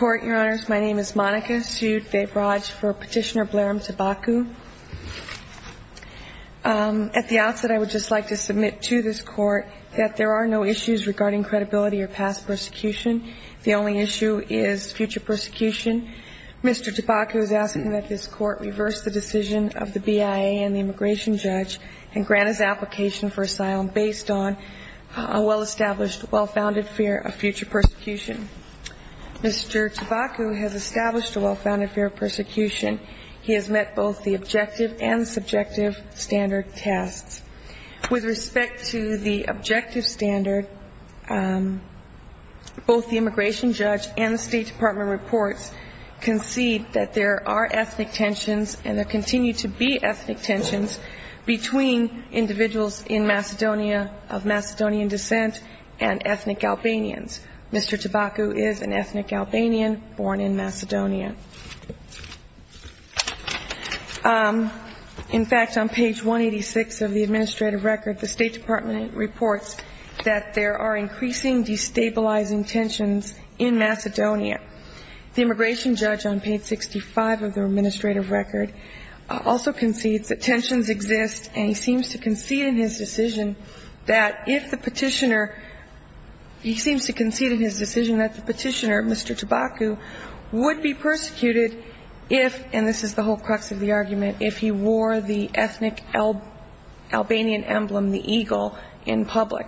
Monica sued B.A.R.A.J. for Petitioner Blairam Tabaku At the outset, I would just like to submit to this Court that there are no issues regarding credibility or past persecution. The only issue is future persecution. Mr. Tabaku is asking that this Court reverse the decision of the BIA and the immigration judge and grant his application for asylum based on a well-established, well-founded fear of future persecution. Mr. Tabaku has established a well-founded fear of persecution. He has met both the objective and subjective standard tests. With respect to the objective standard, both the immigration judge and the State Department reports concede that there are ethnic tensions and there continue to be ethnic tensions between individuals of Macedonian descent and ethnic Albanians. Mr. Tabaku is an ethnic Albanian born in Macedonia. In fact, on page 186 of the administrative record, the State Department reports that there are increasing destabilizing tensions in Macedonia. The immigration judge on page 65 of the administrative record also concedes that tensions exist and he seems to concede in his decision that if the petitioner, he seems to concede in his decision that the petitioner, Mr. Tabaku, would be persecuted if, and this is the whole crux of the argument, if he wore the ethnic Albanian emblem, the eagle, in public.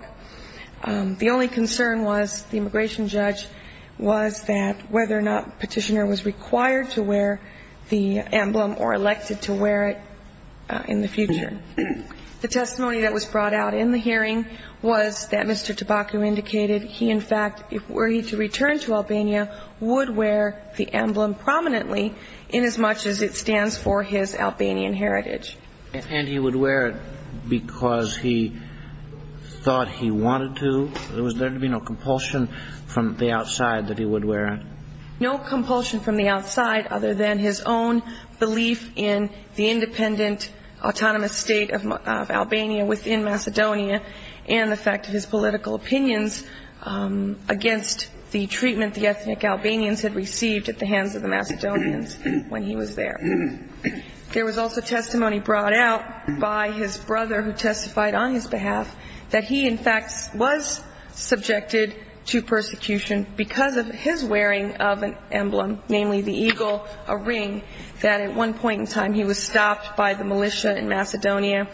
The only concern was, the immigration judge, was that whether or not the petitioner was required to wear the emblem or elected to wear it in the future. The testimony that was brought out in the hearing was that Mr. Tabaku indicated he, in fact, were he to return to Albania, would wear the emblem prominently inasmuch as it stands for his Albanian heritage. And he would wear it because he thought he wanted to? Was there to be no compulsion from the outside that he would wear it? No compulsion from the outside other than his own belief in the independent autonomous state of Albania within Macedonia and the fact of his political opinions against the treatment the ethnic Albanians had received at the hands of the Macedonians when he was there. There was also testimony brought out by his brother who testified on his behalf that he, in fact, was subjected to persecution because of his wearing of an emblem, namely the eagle, a ring, that at one point in time he was stopped by the militia in Macedonia.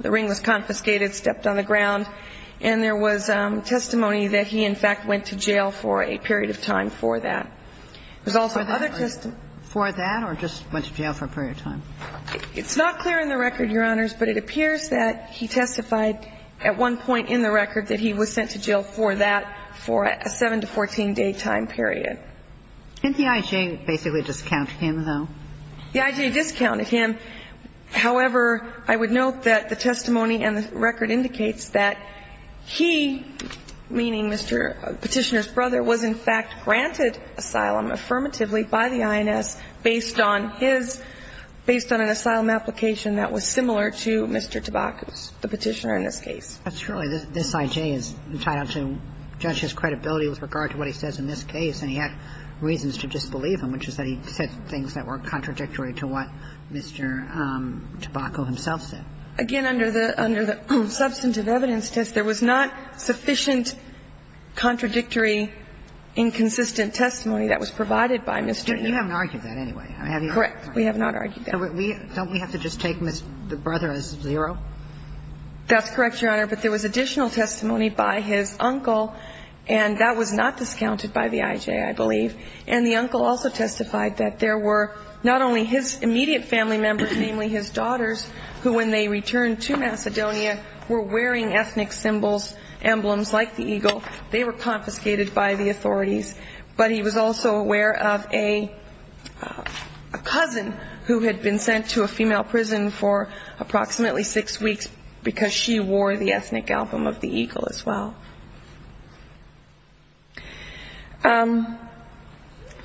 The ring was confiscated, stepped on the ground. And there was testimony that he, in fact, went to jail for a period of time for that. There's also other testimony. For that or just went to jail for a period of time? It's not clear in the record, Your Honors, but it appears that he testified at one point in the record that he was sent to jail for that, for a 7 to 14-day time period. And the IJ basically discounted him, though? The IJ discounted him. However, I would note that the testimony and the record indicates that he, meaning Mr. Petitioner's brother, was in fact granted asylum affirmatively by the INS based on his, based on an asylum application that was similar to Mr. Tabacco's, the Petitioner in this case. But surely this IJ is entitled to judge his credibility with regard to what he says in this case, and he had reasons to disbelieve him, which is that he said things that were contradictory to what Mr. Tabacco himself said. Again, under the substantive evidence test, there was not sufficient contradictory inconsistent testimony that was provided by Mr. Tabacco. You haven't argued that anyway, have you? Correct. We have not argued that. Don't we have to just take the brother as zero? That's correct, Your Honor. But there was additional testimony by his uncle, and that was not discounted by the IJ, I believe. And the uncle also testified that there were not only his immediate family members, namely his daughters, who when they returned to Macedonia were wearing ethnic symbols, emblems like the eagle. They were confiscated by the authorities. But he was also aware of a cousin who had been sent to a female prison for approximately six weeks because she wore the ethnic album of the eagle as well. Do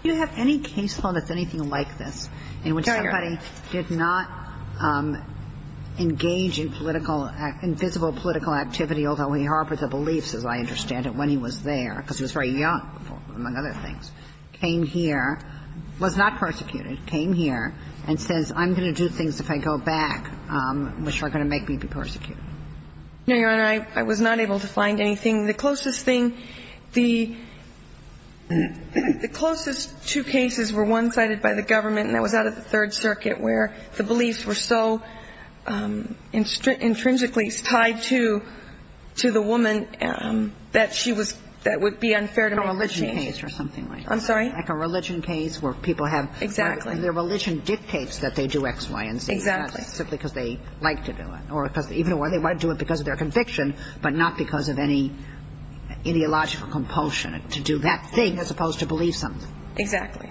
you have any case law that's anything like this in which somebody did not engage in political act – in visible political activity, although he harbored the beliefs, as I understand it, when he was there, because he was very young, among other things, came here, was not persecuted, came here, and says, I'm going to do things if I go back which are going to make me be persecuted? No, Your Honor. I was not able to find anything. The closest thing – the closest two cases were one cited by the government, and that was out of the Third Circuit, where the beliefs were so intrinsically tied to the woman that she was – that would be unfair to make that change. Like a religion case or something like that. I'm sorry? Like a religion case where people have – Exactly. Their religion dictates that they do X, Y, and Z. Exactly. Simply because they like to do it, or because – even when they do it because of their conviction, but not because of any ideological compulsion to do that thing as opposed to believe something. Exactly.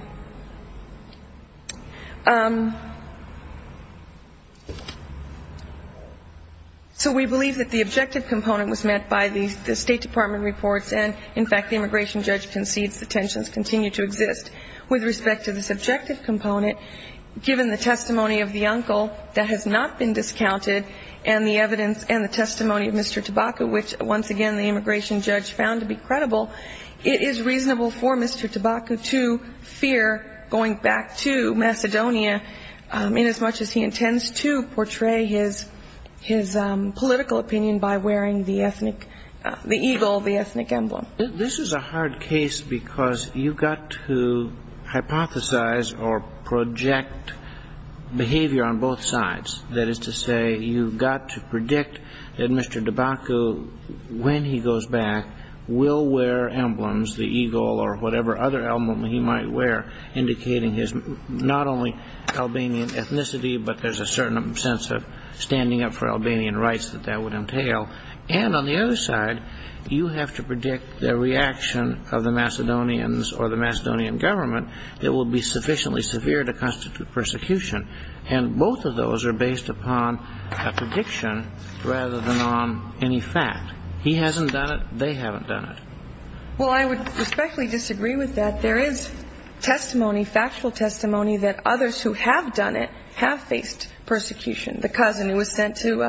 So we believe that the objective component was met by the State Department reports, and, in fact, the immigration judge concedes the tensions continue to exist. With respect to the subjective component, given the testimony of the uncle that has not been discounted, and the evidence and the testimony of Mr. Tabacco, which, once again, the immigration judge found to be credible, it is reasonable for Mr. Tabacco to fear going back to Macedonia inasmuch as he intends to portray his political opinion by wearing the ethnic – the eagle, the ethnic emblem. This is a hard case because you've got to hypothesize or project behavior on both sides. That is to say, you've got to predict that Mr. Tabacco, when he goes back, will wear emblems, the eagle or whatever other emblem he might wear, indicating his not only Albanian ethnicity, but there's a certain sense of standing up for Albanian rights that that would entail. And on the other side, you have to predict the reaction of the Macedonians or the Macedonian government that will be sufficiently severe to constitute persecution. And both of those are based upon a prediction rather than on any fact. He hasn't done it. They haven't done it. Well, I would respectfully disagree with that. There is testimony, factual testimony, that others who have done it have faced persecution. The cousin who was sent to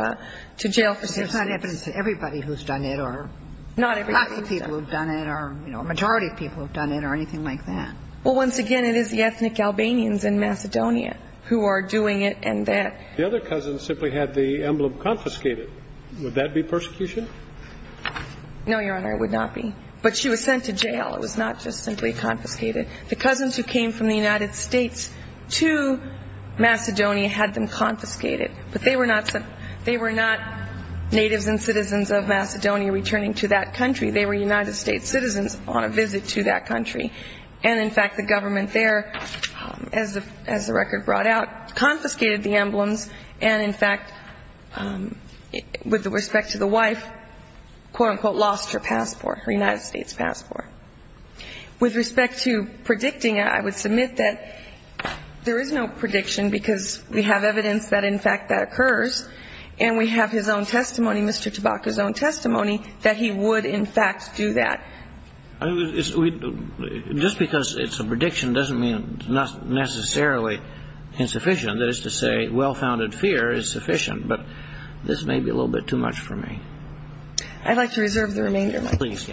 jail for – But there's not evidence that everybody who's done it or lots of people who've done it or a majority of people who've done it or anything like that. Well, once again, it is the ethnic Albanians in Macedonia who are doing it and that – The other cousin simply had the emblem confiscated. Would that be persecution? No, Your Honor, it would not be. But she was sent to jail. It was not just simply confiscated. The cousins who came from the United States to Macedonia had them confiscated. But they were not natives and citizens of Macedonia returning to that country. They were United States citizens on a visit to that country. And, in fact, the government there, as the record brought out, confiscated the emblems and, in fact, with respect to the wife, quote, unquote, lost her passport, her United States passport. With respect to predicting it, I would submit that there is no prediction because we have evidence that, in fact, that occurs. And we have his own testimony, Mr. Tabaka's own testimony, that he would, in fact, do that. Just because it's a prediction doesn't mean it's not necessarily insufficient. That is to say, well-founded fear is sufficient. But this may be a little bit too much for me. I'd like to reserve the remainder of my time. Please.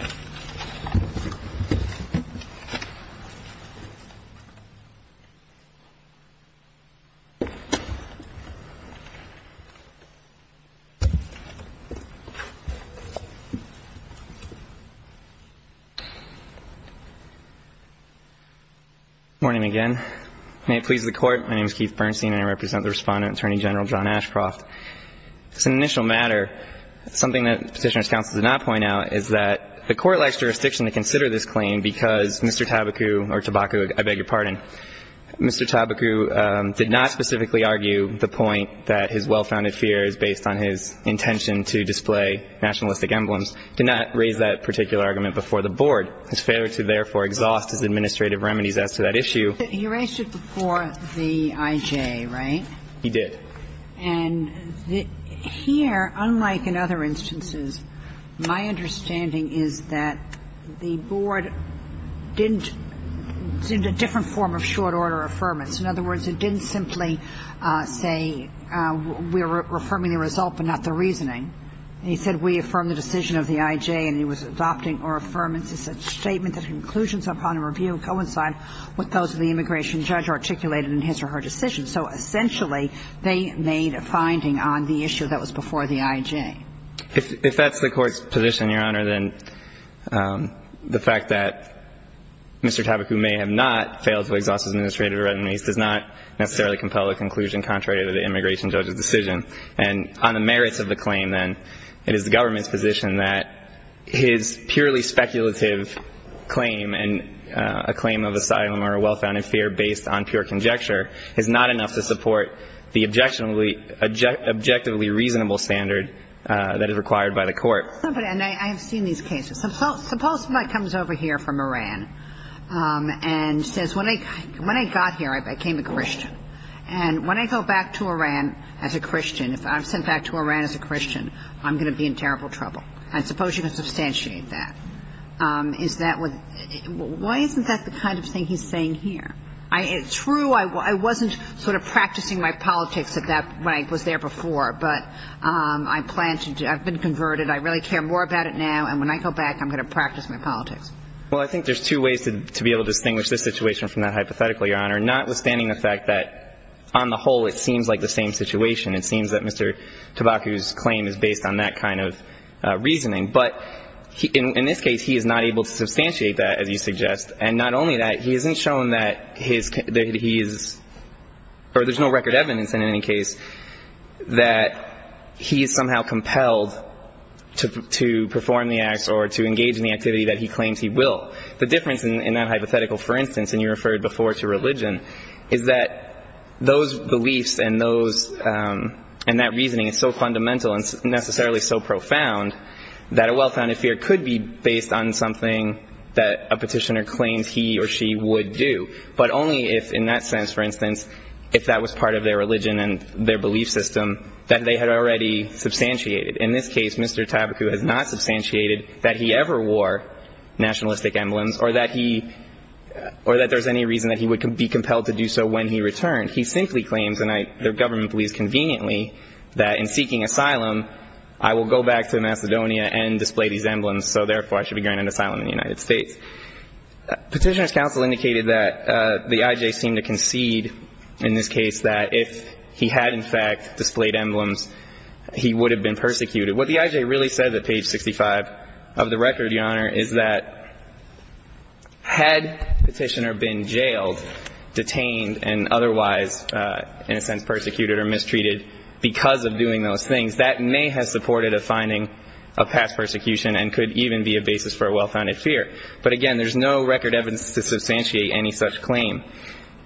Morning again. May it please the Court. My name is Keith Bernstein, and I represent the Respondent, Attorney General John Ashcroft. It's an initial matter. Something that Petitioner's counsel did not point out is that the Court likes jurisdiction to consider this claim because Mr. Tabaka, or Tabaka, I beg your pardon, Mr. Tabaka did not specifically argue the point that his well-founded fear is based on his intention to display nationalistic emblems. He did not raise that particular argument before the Board. His failure to therefore exhaust his administrative remedies as to that issue. He raised it before the I.J., right? He did. And here, unlike in other instances, my understanding is that the Board didn't seem to have a different form of short order affirmance. In other words, it didn't simply say we're affirming the result but not the reasoning. He said we affirm the decision of the I.J., and he was adopting our affirmance as a statement that conclusions upon a review coincide with those of the immigration judge articulated in his or her decision. So essentially, they made a finding on the issue that was before the I.J. If that's the Court's position, Your Honor, then the fact that Mr. Tabaka may have not failed to exhaust his administrative remedies does not necessarily compel a conclusion contrary to the immigration judge's decision. And on the merits of the claim, then, it is the government's position that his purely speculative claim and a claim of asylum or a well-founded fear based on pure conjecture is not enough to support the objectively reasonable standard that is required by the Court. And I have seen these cases. Suppose somebody comes over here from Iran and says when I got here, I became a Christian. And when I go back to Iran as a Christian, if I'm sent back to Iran as a Christian, I'm going to be in terrible trouble. And suppose you can substantiate that. Is that what the – why isn't that the kind of thing he's saying here? It's true I wasn't sort of practicing my politics at that – when I was there before, but I plan to – I've been converted. I really care more about it now. And when I go back, I'm going to practice my politics. Well, I think there's two ways to be able to distinguish this situation from that hypothetical, Your Honor, notwithstanding the fact that on the whole it seems like the same situation. It seems that Mr. Tabaka's claim is based on that kind of reasoning. But in this case, he is not able to substantiate that, as you suggest. And not only that, he hasn't shown that he is – or there's no record evidence in any case that he is somehow compelled to perform the acts or to engage in the activity that he claims he will. The difference in that hypothetical, for instance, and you referred before to religion, is that those beliefs and those – and that reasoning is so fundamental and necessarily so profound that a well-founded fear could be based on something that a petitioner claims he or she would do. But only if, in that sense, for instance, if that was part of their religion and their belief system that they had already substantiated. In this case, Mr. Tabaka has not substantiated that he ever wore nationalistic emblems or that he – or that there's any reason that he would be compelled to do so when he returned. He simply claims, and the government believes conveniently, that in seeking asylum, I will go back to Macedonia and display these emblems, so therefore I Petitioner's counsel indicated that the I.J. seemed to concede in this case that if he had, in fact, displayed emblems, he would have been persecuted. What the I.J. really said at page 65 of the record, Your Honor, is that had the petitioner been jailed, detained, and otherwise, in a sense, persecuted or mistreated because of doing those things, that may have supported a finding of past persecution and could even be a basis for a well-founded fear. But again, there's no record evidence to substantiate any such claim.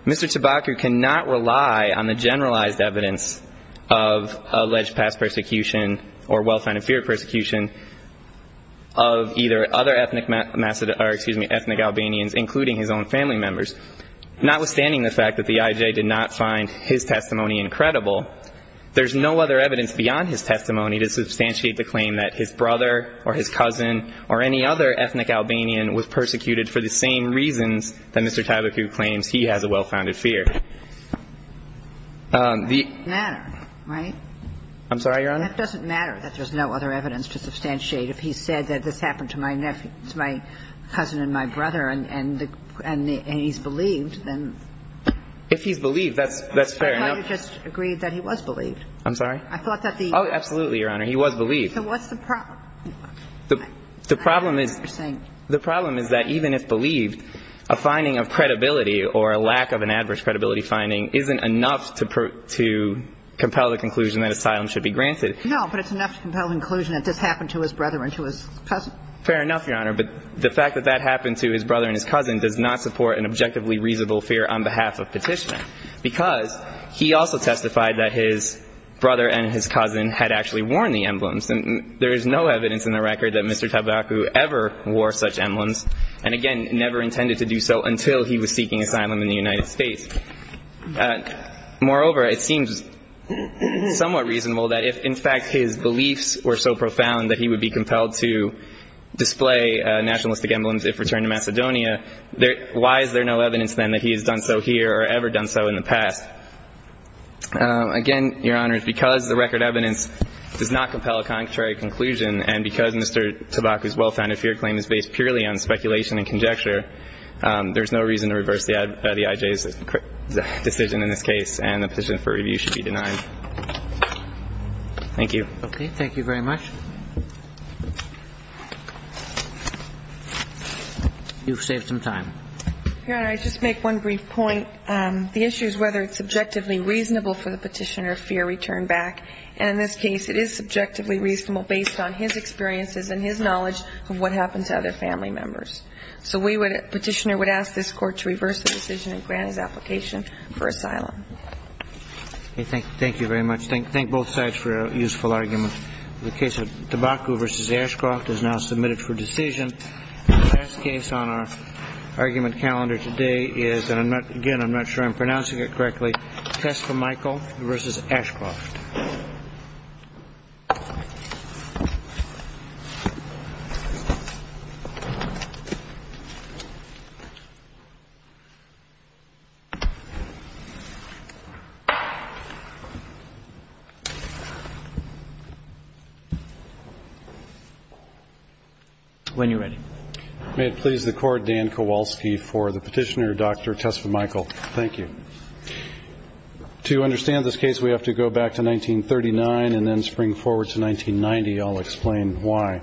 Mr. Tabaka cannot rely on the generalized evidence of alleged past persecution or well-founded fear of persecution of either other ethnic Albanians, including his own family members. Notwithstanding the fact that the I.J. did not find his testimony incredible, there's no other evidence beyond his testimony to substantiate the claim that his brother or his cousin or any other ethnic Albanian was persecuted for the same reasons that Mr. Tabaka claims he has a well-founded fear. The ---- It doesn't matter, right? I'm sorry, Your Honor? It doesn't matter that there's no other evidence to substantiate. If he said that this happened to my cousin and my brother and he's believed, then ---- If he's believed, that's fair enough. I thought he just agreed that he was believed. I'm sorry? I thought that the ---- Oh, absolutely, Your Honor. He was believed. So what's the problem? The problem is that even if believed, a finding of credibility or a lack of an adverse credibility finding isn't enough to compel the conclusion that asylum should be granted. No, but it's enough to compel the conclusion that this happened to his brother and to his cousin. Fair enough, Your Honor. But the fact that that happened to his brother and his cousin does not support an objectively reasonable fear on behalf of petitioner, because he also testified that his brother and his cousin had actually worn the emblems. There is no evidence in the record that Mr. Tabaku ever wore such emblems and, again, never intended to do so until he was seeking asylum in the United States. Moreover, it seems somewhat reasonable that if, in fact, his beliefs were so profound that he would be compelled to display nationalistic emblems if returned to Macedonia, why is there no evidence then that he has done so here or ever done so in the past? Again, Your Honor, because the record evidence does not compel a concrete conclusion and because Mr. Tabaku's well-founded fear claim is based purely on speculation and conjecture, there is no reason to reverse the IJ's decision in this case, and the petition for review should be denied. Thank you. Okay. Thank you very much. You've saved some time. Your Honor, I'd just make one brief point. The issue is whether it's subjectively reasonable for the petitioner of fear to return back, and in this case it is subjectively reasonable based on his experiences and his knowledge of what happened to other family members. So the petitioner would ask this Court to reverse the decision and grant his application for asylum. Okay. Thank you very much. Thank both sides for a useful argument. The case of Tabaku v. Ashcroft is now submitted for decision. The last case on our argument calendar today is, and, again, I'm not sure I'm pronouncing it correctly, Test for Michael v. Ashcroft. When you're ready. May it please the Court, Dan Kowalski for the petitioner, Dr. Test for Michael. Thank you. To understand this case, we have to go back to 1939 and then spring forward to 1990. I'll explain why.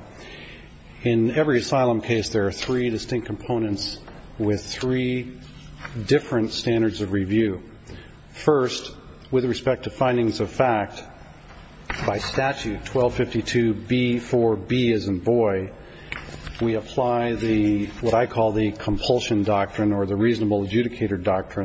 In every asylum case, there are three distinct components with three different standards of review. First, with respect to findings of fact, by statute, 1252B4B as in boy, we apply what I call the compulsion doctrine or the reasonable adjudicator doctrine.